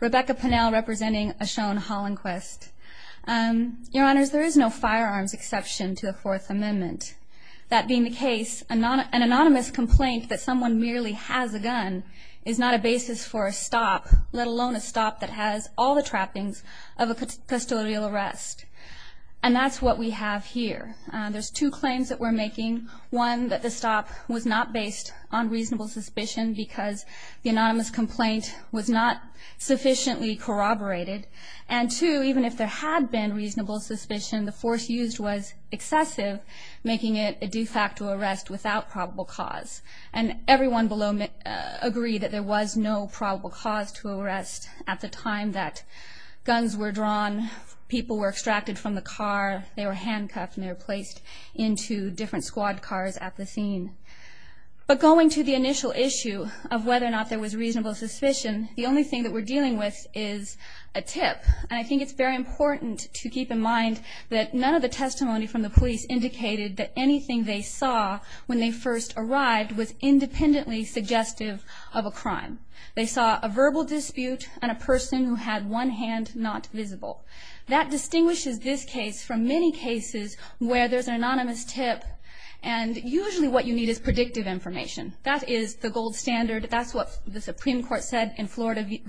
Rebecca Pennell representing Ashone Hollinquest. Your honors, there is no firearms exception to the Fourth Amendment. That being the case, an anonymous complaint that someone merely has a gun is not a basis for a stop, let alone a stop that has all the trappings of a custodial arrest. And that's what we have here. There's two claims that we're making. One, that the stop was not based on reasonable suspicion because the anonymous complaint was not sufficiently corroborated. And two, even if there had been reasonable suspicion, the force used was excessive, making it a de facto arrest without probable cause. And everyone below me agreed that there was no probable cause to arrest at the time that guns were drawn, people were extracted from the car, they were handcuffed, and they were placed into different squad cars at the scene. But going to the initial issue of whether or not there was reasonable suspicion, the only thing that we're dealing with is a tip. And I think it's very important to keep in mind that none of the testimony from the police indicated that anything they saw when they first arrived was independently suggestive of a crime. They saw a verbal dispute and a person who had one hand not visible. That distinguishes this case from many cases where there's an anonymous tip and usually what you need is predictive information. That is the gold standard. That's what the Supreme Court said in Florida v.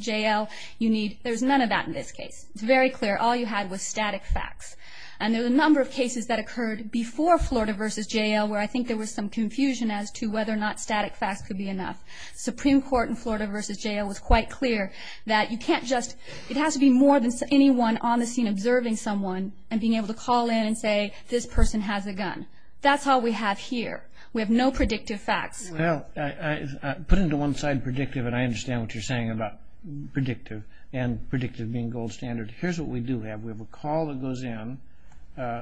J.L. You need, there's none of that in this case. It's very clear. All you had was static facts. And there were a number of cases that occurred before Florida v. J.L. where I think there was some confusion as to whether or not static facts could be enough. Supreme Court in Florida v. J.L. was quite clear that you can't just, it has to be more than anyone on the scene observing someone and being able to call in and say, this person has a gun. That's all we have here. We have no predictive facts. Well, I put into one side predictive and I understand what you're saying about predictive and predictive being gold standard. Here's what we do have. We have a call that goes in.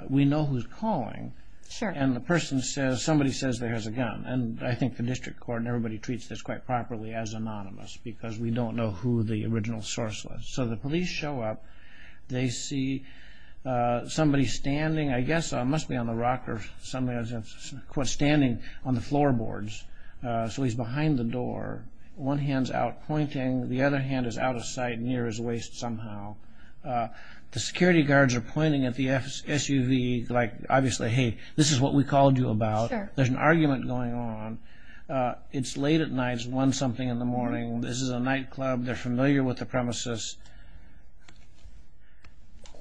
We know who's calling and the person says, somebody says they have a gun. And I think the district court and everybody treats this quite properly as anonymous because we don't know who the original source was. So the police show up. They see somebody standing, I guess it must be on the rock or something, standing on the floorboards. So he's behind the door. One hand's out pointing. The other hand is out of sight near his waist somehow. The security guards are pointing at the SUV like obviously, hey, this is what we called you about. There's an argument going on. It's late at night. It's one something in the morning. This is a nightclub. They're on the premises.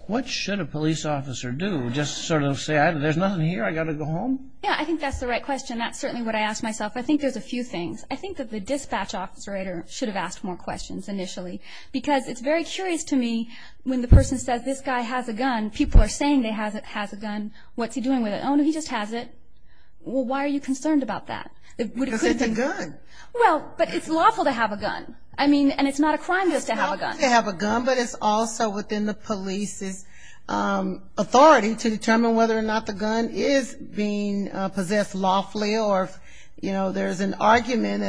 What should a police officer do? Just sort of say, there's nothing here. I got to go home? Yeah, I think that's the right question. That's certainly what I ask myself. I think there's a few things. I think that the dispatch officer should have asked more questions initially because it's very curious to me when the person says this guy has a gun, people are saying he has a gun. What's he doing with it? Oh, no, he just has it. Well, why are you concerned about that? Because it's a gun. Well, but it's lawful to have a gun. I mean, and it's not a crime just to have It's lawful to have a gun, but it's also within the police's authority to determine whether or not the gun is being possessed lawfully or if there's an argument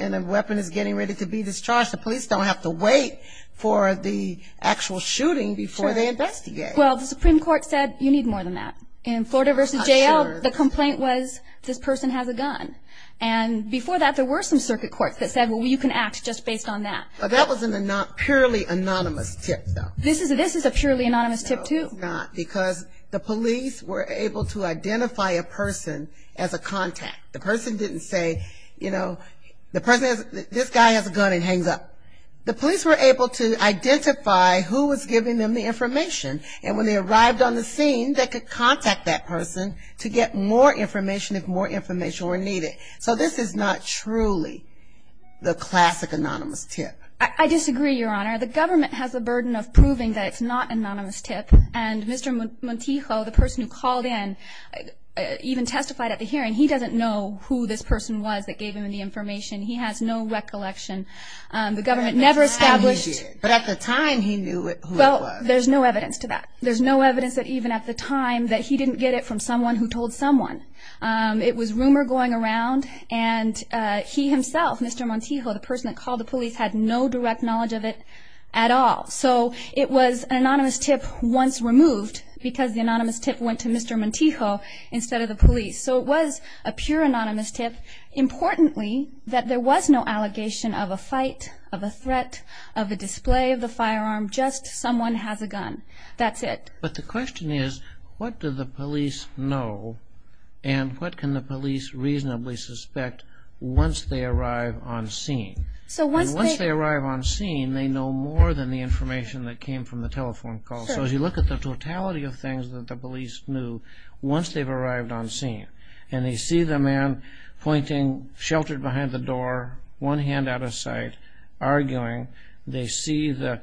and a weapon is getting ready to be discharged, the police don't have to wait for the actual shooting before they investigate. Well, the Supreme Court said you need more than that. In Florida v. J.L., the there were some circuit courts that said, well, you can act just based on that. Well, that was a purely anonymous tip, though. This is a purely anonymous tip, too. No, it's not, because the police were able to identify a person as a contact. The person didn't say, you know, this guy has a gun and hangs up. The police were able to identify who was giving them the information, and when they arrived on the scene, they could contact that person to get more information if more information were needed. So this is not truly the classic anonymous tip. I disagree, Your Honor. The government has a burden of proving that it's not an anonymous tip, and Mr. Montijo, the person who called in, even testified at the hearing, he doesn't know who this person was that gave him the information. He has no recollection. The government never established But at the time he did. But at the time he knew who it was. Well, there's no evidence to that. There's no evidence that even at the It was rumor going around, and he himself, Mr. Montijo, the person that called the police, had no direct knowledge of it at all. So it was an anonymous tip once removed because the anonymous tip went to Mr. Montijo instead of the police. So it was a pure anonymous tip. Importantly, that there was no allegation of a fight, of a threat, of a display of the firearm, just someone has a gun. That's it. But the question is, what do the police know, and what can the police reasonably suspect once they arrive on scene? So once they... And once they arrive on scene, they know more than the information that came from the telephone call. So as you look at the totality of things that the police knew once they've arrived on scene, and they see the man pointing, sheltered behind the door, one hand out of sight, arguing, they see the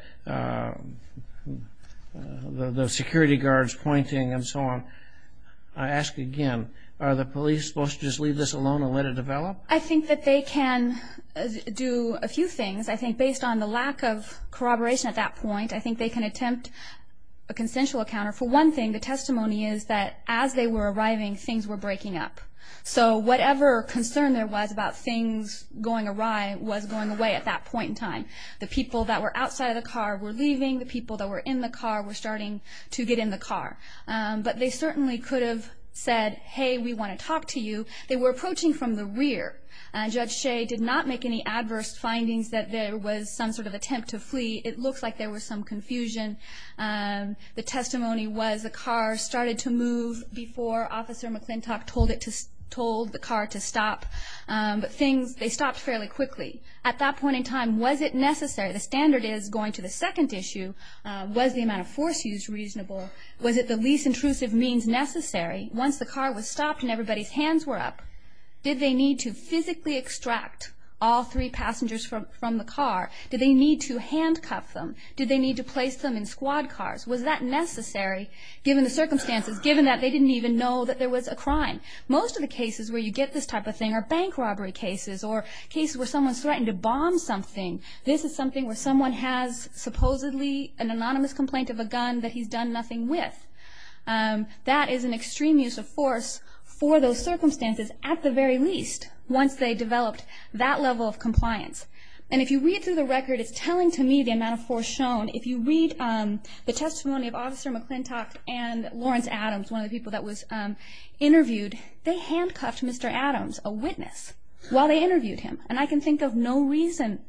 security guards pointing and so on. I ask again, are the police supposed to just leave this alone and let it develop? I think that they can do a few things. I think based on the lack of corroboration at that point, I think they can attempt a consensual encounter. For one thing, the testimony is that as they were arriving, things were breaking up. So whatever concern there was about things going away at that point in time, the people that were outside of the car were leaving, the people that were in the car were starting to get in the car. But they certainly could have said, hey, we want to talk to you. They were approaching from the rear. Judge Shea did not make any adverse findings that there was some sort of attempt to flee. It looks like there was some confusion. The testimony was the car started to move before Officer McClintock told the car to stop. But things... They stopped fairly quickly. At that point in time, was it necessary? The standard is going to the second issue, was the amount of force used reasonable? Was it the least intrusive means necessary? Once the car was stopped and everybody's hands were up, did they need to physically extract all three passengers from the car? Did they need to handcuff them? Did they need to place them in squad cars? Was that necessary, given the circumstances, given that they didn't even know that there was a crime? Most of the cases where you get this type of thing are bank robbery cases or cases where someone's threatened to bomb something. This is something where someone has supposedly an anonymous complaint of a gun that he's done nothing with. That is an extreme use of force for those circumstances, at the very least, once they developed that level of compliance. And if you read through the record, it's telling to me the amount of force shown. If you read the testimony of Officer McClintock and Lawrence Adams, one of the people that was interviewed, they handcuffed Mr. Adams, a witness, while they interviewed him. And I can think of no reason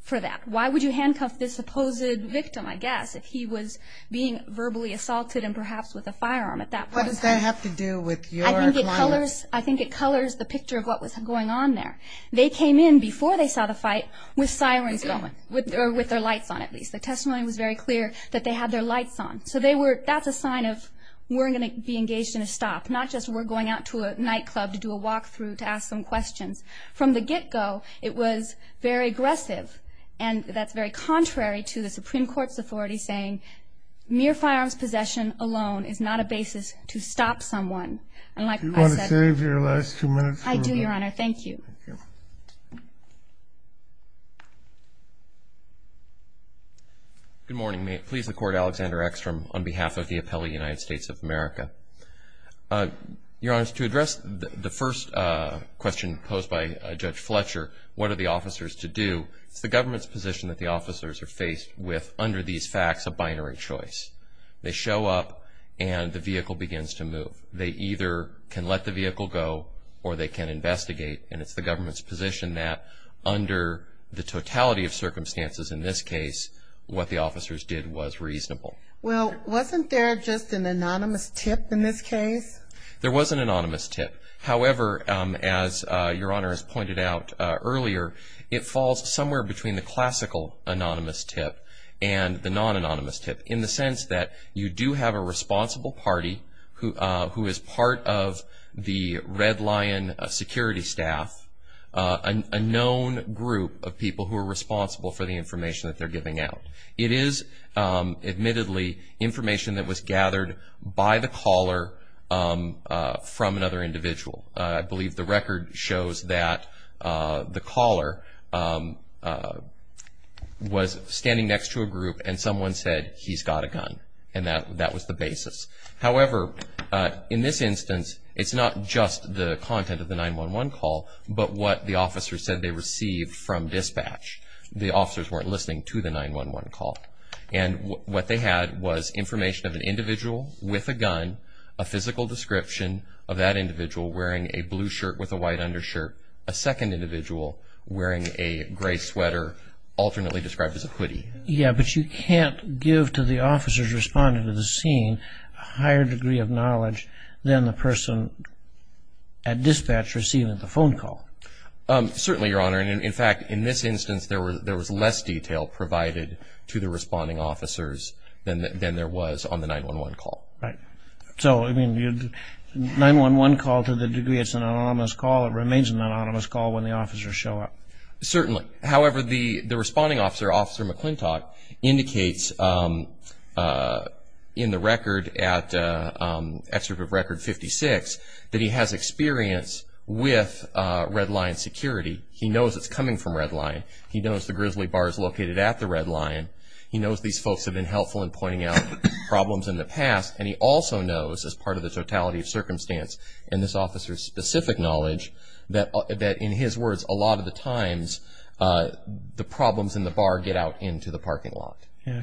for that. Why would you handcuff this supposed victim, I guess, if he was being verbally assaulted and perhaps with a firearm at that point? What does that have to do with your client? I think it colors the picture of what was going on there. They came in before they saw the fight with sirens going, or with their lights on, at least. The testimony was very clear that they had their lights on. So that's a sign of we're going to be doing a walk-through to ask some questions. From the get-go, it was very aggressive. And that's very contrary to the Supreme Court's authority saying mere firearms possession alone is not a basis to stop someone. And like I said... Do you want to save your last two minutes for... I do, Your Honor. Thank you. Thank you. Good morning. May it please the Court, Alexander Eckstrom, on behalf of the first question posed by Judge Fletcher, what are the officers to do? It's the government's position that the officers are faced with, under these facts, a binary choice. They show up and the vehicle begins to move. They either can let the vehicle go or they can investigate. And it's the government's position that under the totality of circumstances in this case, what the officers did was reasonable. Well, wasn't there just an anonymous tip in this case? There was an anonymous tip. However, as Your Honor has pointed out earlier, it falls somewhere between the classical anonymous tip and the non-anonymous tip in the sense that you do have a responsible party who is part of the Red Lion security staff, a known group of people who are responsible for the information that they're giving out. It is, admittedly, information that was gathered by the caller from another individual. I believe the record shows that the caller was standing next to a group and someone said, he's got a gun. And that was the basis. However, in this instance, it's not just the content of the 911 call, but what the officers said they received from dispatch. The officers weren't listening to the 911 call. And what they had was information of an individual with a gun, a physical description of that individual wearing a blue shirt with a white undershirt, a second individual wearing a gray sweater, alternately described as a hoodie. Yeah, but you can't give to the officers responding to the scene a higher degree of knowledge than the person at dispatch receiving the phone call. Certainly, Your Honor. And in fact, in this instance, there was less detail provided to the responding officers than there was on the 911 call. Right. So, I mean, 911 call, to the degree it's an anonymous call, it remains an anonymous call when the officers show up. Certainly. However, the responding officer, Officer McClintock, indicates in the record at Excerpt of Record 56 that he has experience with Red Lion security. He knows it's coming from Red Lion. He knows the Grizzly Bar is located at the Red Lion. He knows these folks have been helpful in pointing out problems in the past. And he also knows, as part of the totality of circumstance and this officer's specific knowledge, that in his words, a lot of the times the problems in the bar get out into the parking lot.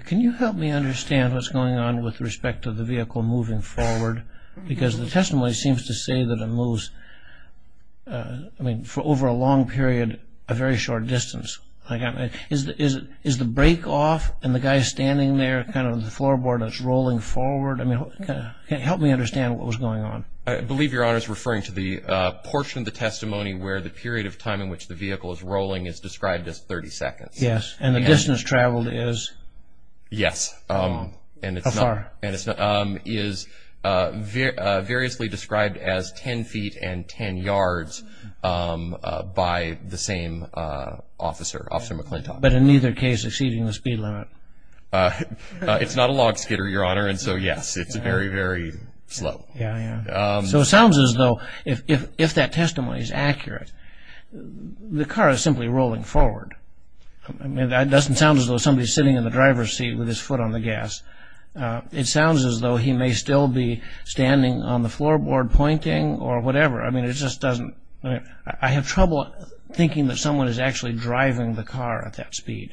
Can you help me understand what's going on with respect to the vehicle moving forward? Because the testimony seems to say that it moves, I mean, for over a long period, a very short distance. Is the break off and the guy standing there, kind of the floorboard that's rolling forward, I mean, help me understand what was going on. I believe Your Honor is referring to the portion of the testimony where the period of time in which the vehicle is rolling is described as 30 seconds. Yes. And the distance traveled is? Yes. How far? By the same officer, Officer McClintock. But in neither case exceeding the speed limit. It's not a log skidder, Your Honor. And so, yes, it's very, very slow. Yeah, yeah. So it sounds as though if that testimony is accurate, the car is simply rolling forward. I mean, that doesn't sound as though somebody's sitting in the driver's seat with his foot on the gas. It sounds as though he may still be standing on the floorboard pointing or whatever. I mean, it just seems to me that there's trouble thinking that someone is actually driving the car at that speed.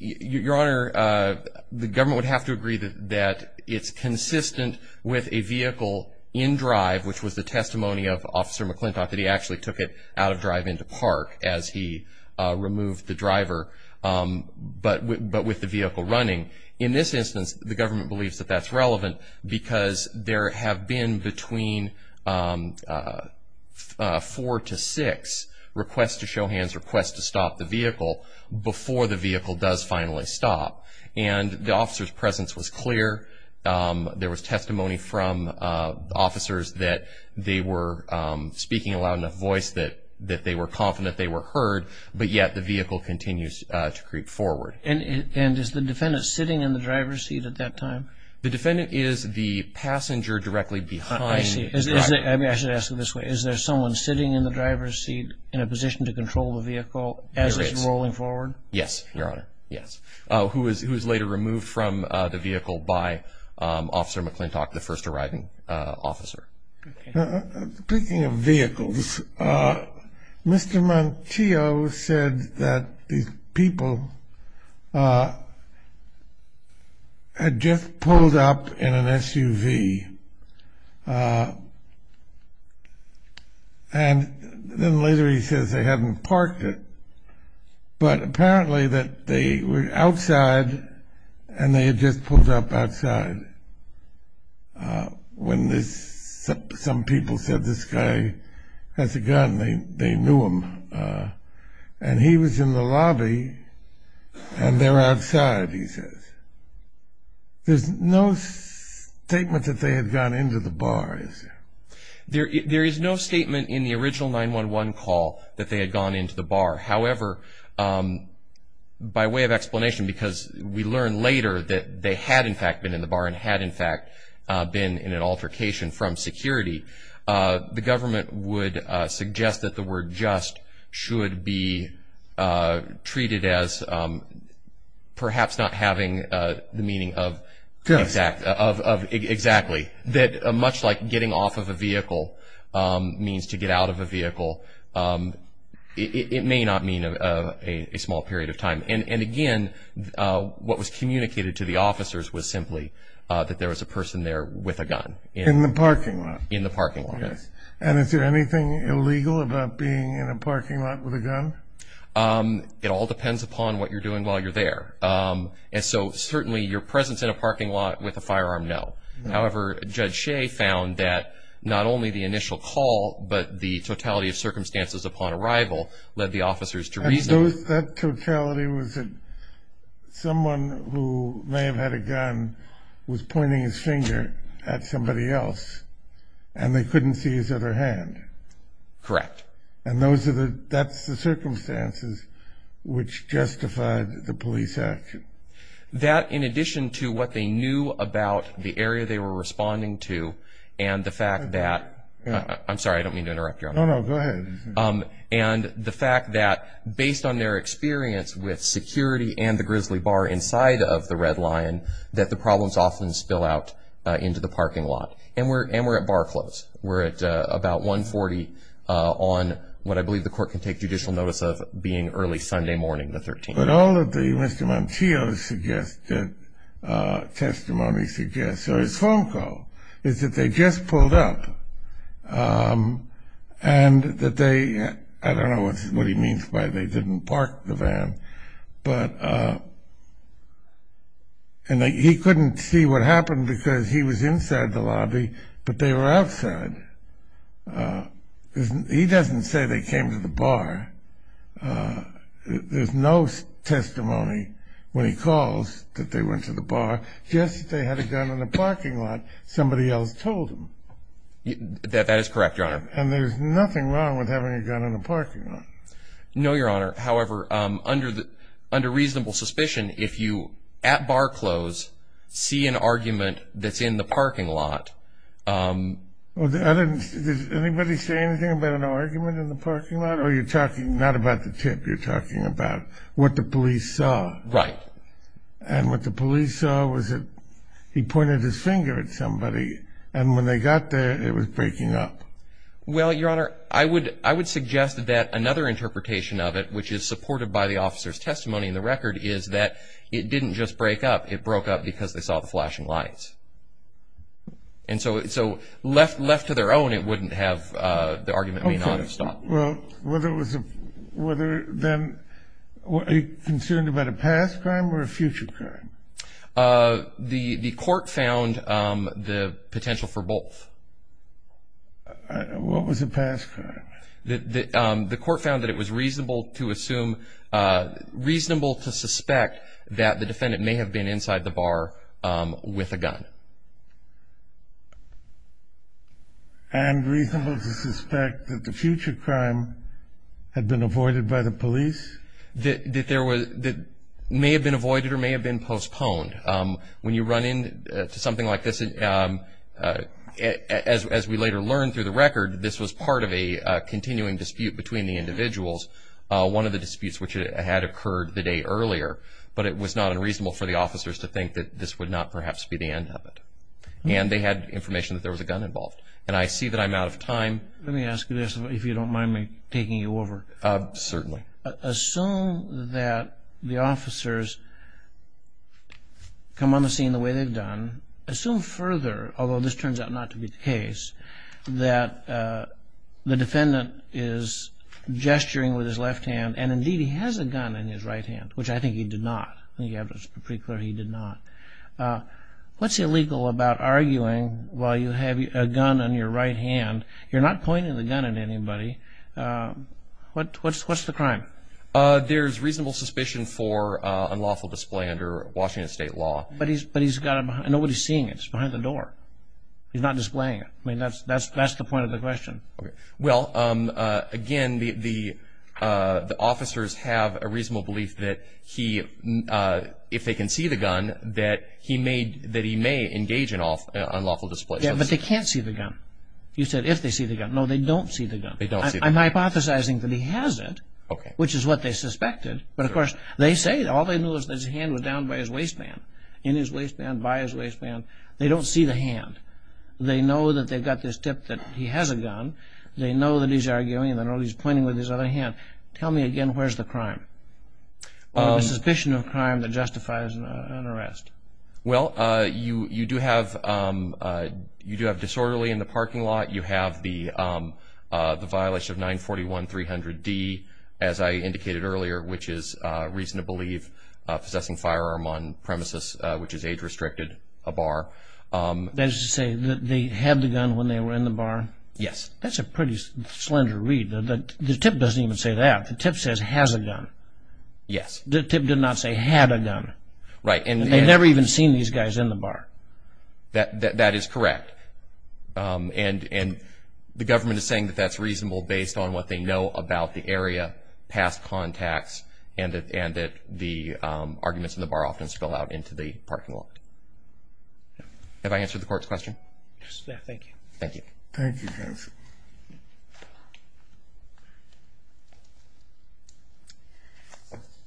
Your Honor, the government would have to agree that it's consistent with a vehicle in drive, which was the testimony of Officer McClintock, that he actually took it out of drive into park as he removed the driver, but with the vehicle running. In this instance, the government believes that that's request to show hands, request to stop the vehicle before the vehicle does finally stop. And the officer's presence was clear. There was testimony from officers that they were speaking aloud in a voice that they were confident they were heard, but yet the vehicle continues to creep forward. And is the defendant sitting in the driver's seat at that time? The defendant is the passenger directly behind the driver. I mean, I should ask it this way. Is there someone sitting in the driver's seat in a position to control the vehicle as it's rolling forward? Yes, Your Honor. Yes. Who was later removed from the vehicle by Officer McClintock, the first arriving officer. Speaking of vehicles, Mr. Montillo said that the people had just pulled up in an SUV. And then later he says they hadn't parked it, but apparently that they were outside and they had just pulled up outside. When some people said this guy has a gun, they knew him. And he was in the lobby and they're outside, he says. There's no statement that they had gone into the bar, is there? There is no statement in the original 911 call that they had gone into the bar. However, by way of explanation, because we learned later that they had in fact been in the bar and had in fact been in an altercation from security, the government would suggest that the word just should be treated as perhaps not having the meaning of exactly. That much like getting off of a vehicle means to get out of a vehicle, it may not mean a small period of time. And again, what was communicated to the officers was simply that there was a person there with a gun. In the parking lot? In the parking lot, yes. And is there anything illegal about being in a parking lot with a gun? It all depends upon what you're doing while you're there. And so certainly your presence in a parking lot with a firearm, no. However, Judge Shea found that not only the initial call, but the totality of circumstances upon arrival led the officers to reason. That totality was that someone who may have had a gun was pointing his finger at somebody else and they couldn't see his other hand. Correct. And that's the circumstances which justified the police action? That in addition to what they knew about the area they were responding to and the fact that, I'm sorry, I don't mean to interrupt you. No, no, go ahead. And the fact that based on their experience with security and the Grizzly Bar inside of the Red Lion, that the problems often spill out into the parking lot. And we're at bar close. We're at about 140 on what I believe the court can take judicial notice of being early Sunday morning, the 13th. But all of the Mr. Montillo's suggested, testimony suggests, or his phone call, is that they just pulled up and that they, I don't know what he means by they didn't park the but they were outside. Uh, he doesn't say they came to the bar. Uh, there's no testimony when he calls that they went to the bar. Yes, they had a gun in the parking lot. Somebody else told him that that is correct, Your Honor. And there's nothing wrong with having a gun in the parking lot. No, Your Honor. However, under under reasonable suspicion, if you at bar close, see an argument in the parking lot. Um, I didn't. Does anybody say anything about an argument in the parking lot? Are you talking not about the tip? You're talking about what the police saw? Right. And what the police saw was that he pointed his finger at somebody. And when they got there, it was breaking up. Well, Your Honor, I would I would suggest that another interpretation of it, which is supported by the officer's testimony in the record, is that it didn't just break up. It broke up because they saw the flashing lights. And so so left left to their own. It wouldn't have. The argument may not have stopped. Well, whether it was whether then what are you concerned about a past crime or a future crime? Uh, the court found the potential for both. What was the past? The court found that it was reasonable to assume, uh, reasonable to suspect that the defendant may have been inside the bar with a gun. Yeah. And reasonable to suspect that the future crime had been avoided by the police. That there was that may have been avoided or may have been postponed. Um, when you run into something like this, um, as we later learned through the record, this was part of a continuing dispute between the individuals. One of the disputes which had occurred the day earlier. But it was not unreasonable for the officers to think that this would not perhaps be the end of it. And they had information that there was a gun involved. And I see that I'm out of time. Let me ask you this, if you don't mind me taking you over. Certainly. Assume that the officers come on the scene the way they've done. Assume further, although this turns out not to be the case, that the defendant is gesturing with his left hand. And indeed, he has a gun in his right hand, which I think he did not. He did not. What's illegal about arguing while you have a gun on your right hand? You're not pointing the gun at anybody. What's what's what's the crime? Uh, there's reasonable suspicion for unlawful display under Washington state law. But he's but he's got nobody seeing it's behind the door. He's not displaying it. I mean, that's that's that's the point of the if they can see the gun that he made that he may engage in off unlawful display. But they can't see the gun. You said if they see the gun? No, they don't see the gun. I'm hypothesizing that he has it, which is what they suspected. But, of course, they say all they know is his hand was down by his waistband in his waistband by his waistband. They don't see the hand. They know that they've got this tip that he has a gun. They know that he's arguing that he's pointing with his other hand. Tell me crime that justifies an arrest. Well, you you do have, um, you do have disorderly in the parking lot. You have the, um, the violation of 941 300 D, as I indicated earlier, which is reason to believe possessing firearm on premises, which is age restricted a bar. Um, that is to say that they had the gun when they were in the bar. Yes, that's a pretty slender read. The tip doesn't even say that the tip says has a gun. Yes, the tip did not say had a gun, right? And they never even seen these guys in the bar. That that is correct. Um, and and the government is saying that that's reasonable based on what they know about the area past contacts and and that the arguments in the bar often spill out into the parking lot. Have I answered the court's question? Thank you. Thank you. Yes.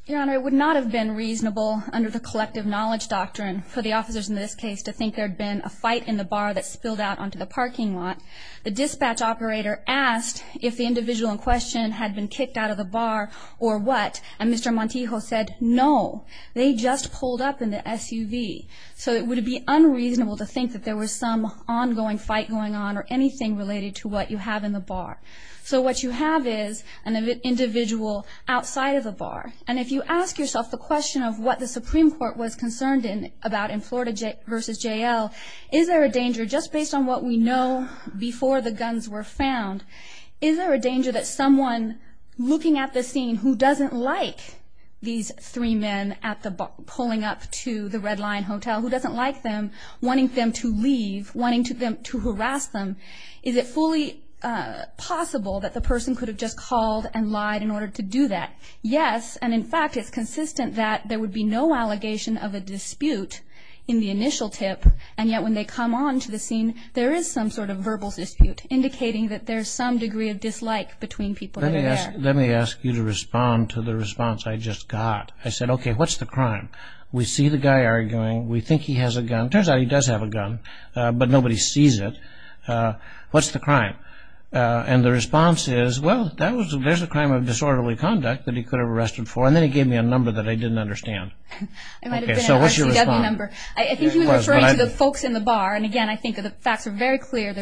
Your Honor, it would not have been reasonable under the collective knowledge doctrine for the officers in this case to think there had been a fight in the bar that spilled out onto the parking lot. The dispatch operator asked if the individual in question had been kicked out of the bar or what? And Mr Montejo said no, they just pulled up in the SUV. So it would be unreasonable to think that there was some ongoing fight going on or anything related to what you have in the bar. So what you have is an individual outside of the bar. And if you ask yourself the question of what the Supreme Court was concerned in about in Florida versus J. L. Is there a danger just based on what we know before the guns were found? Is there a danger that someone looking at the scene who doesn't like these three men at the pulling up to the Red Line Hotel who doesn't like them wanting them to leave, wanting them to harass them, is it fully possible that the person could have just called and lied in order to do that? Yes. And in fact, it's consistent that there would be no allegation of a dispute in the initial tip. And yet when they come on to the scene, there is some sort of verbal dispute indicating that there's some degree of dislike between people. Let me ask you to respond to the response I just got. I said, okay, what's the crime? We see the guy arguing. We think he has a gun. Turns out he does have a gun, but nobody sees it. What's the crime? And the response is, well, there's a crime of disorderly conduct that he could have arrested for. And then he gave me a number that I didn't understand. Okay, so what's your response? I think he was referring to the folks in the bar. And again, I think the facts are very clear.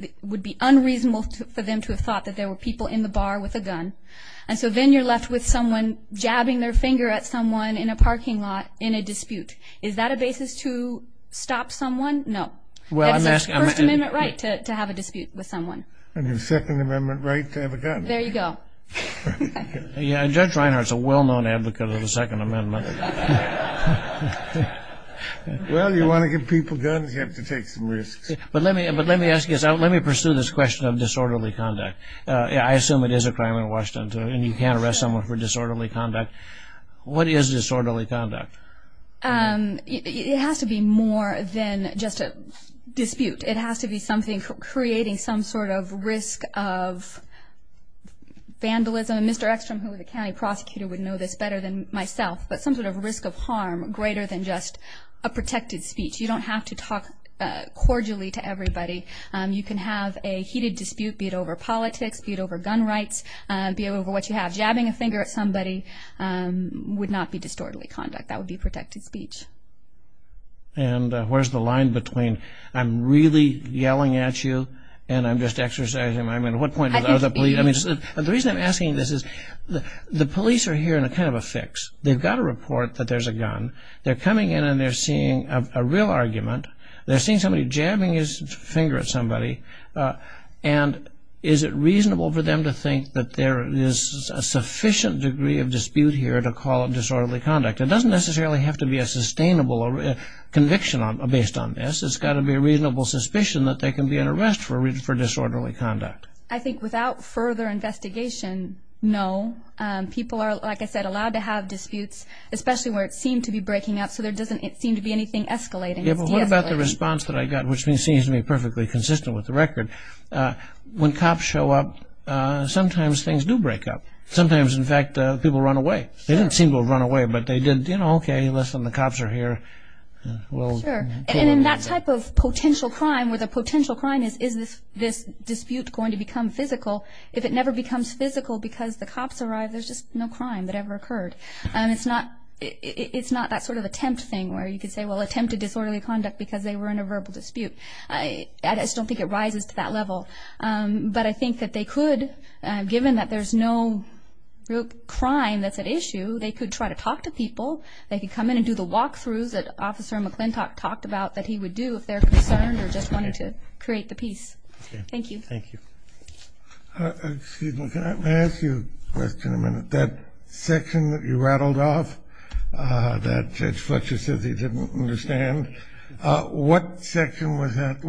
It would be unreasonable for them to have thought that there were people in the bar with a gun. And so then you're left with someone jabbing their head. Would you stop someone? No. It's a First Amendment right to have a dispute with someone. And a Second Amendment right to have a gun. There you go. Judge Reinhart's a well-known advocate of the Second Amendment. Well, you want to give people guns, you have to take some risks. But let me ask you this. Let me pursue this question of disorderly conduct. I assume it is a crime in Washington, too, and you can't arrest someone for disorderly conduct. What is disorderly conduct? It has to be more than just a dispute. It has to be something creating some sort of risk of vandalism. And Mr. Eckstrom, who is a county prosecutor, would know this better than myself. But some sort of risk of harm greater than just a protected speech. You don't have to talk cordially to everybody. You can have a heated dispute, be it over politics, be it over gun rights, be it over what you have. Jabbing a finger at somebody would not be protected speech. And where's the line between, I'm really yelling at you, and I'm just exercising my right. I mean, what point are the police... The reason I'm asking this is the police are here in a kind of a fix. They've got a report that there's a gun. They're coming in and they're seeing a real argument. They're seeing somebody jabbing his finger at somebody. And is it reasonable for them to think that there is a sufficient degree of conviction based on this? It's got to be a reasonable suspicion that they can be in arrest for disorderly conduct. I think without further investigation, no. People are, like I said, allowed to have disputes, especially where it seemed to be breaking up. So there doesn't seem to be anything escalating. Yeah, but what about the response that I got, which seems to me perfectly consistent with the record? When cops show up, sometimes things do break up. Sometimes, in fact, people run away. They didn't seem to have run away, but they did, you know, okay, listen, the cops are here. Sure, and in that type of potential crime, where the potential crime is, is this dispute going to become physical? If it never becomes physical because the cops arrive, there's just no crime that ever occurred. It's not that sort of attempt thing where you could say, well, attempted disorderly conduct because they were in a verbal dispute. I just don't think it rises to that level. But I think that they could, given that there's no real crime that's at issue, they could try to talk to people, they could come in and do the walkthroughs that Officer McClintock talked about that he would do if they're concerned or just wanted to create the peace. Okay. Thank you. Thank you. Excuse me, can I ask you a question a minute? That section that you rattled off, that Judge Fletcher says he didn't understand, what section was that?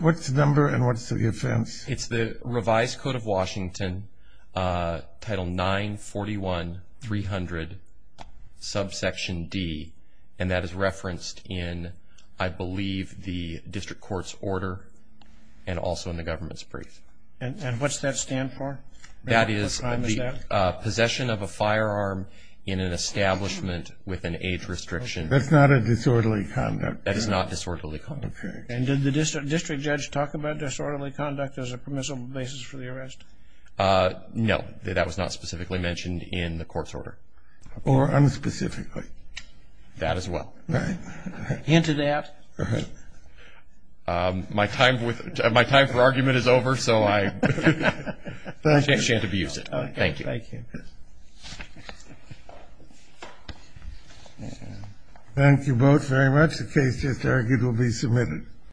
What's the number and what's the offense? It's the revised Code of Washington, Title 941-300, subsection D, and that is referenced in, I believe, the district court's order and also in the government's brief. And what's that stand for? That is the possession of a firearm in an establishment with an age restriction. That's not a disorderly conduct. That is not disorderly conduct. Okay. And did the district judge talk about disorderly conduct as a permissible basis for the arrest? No. That was not specifically mentioned in the court's order. Or unspecifically. That as well. Right. Hint of that. My time for argument is over, so I shan't abuse it. Thank you. Thank you. Thank you both very much. The case is arguably submitted.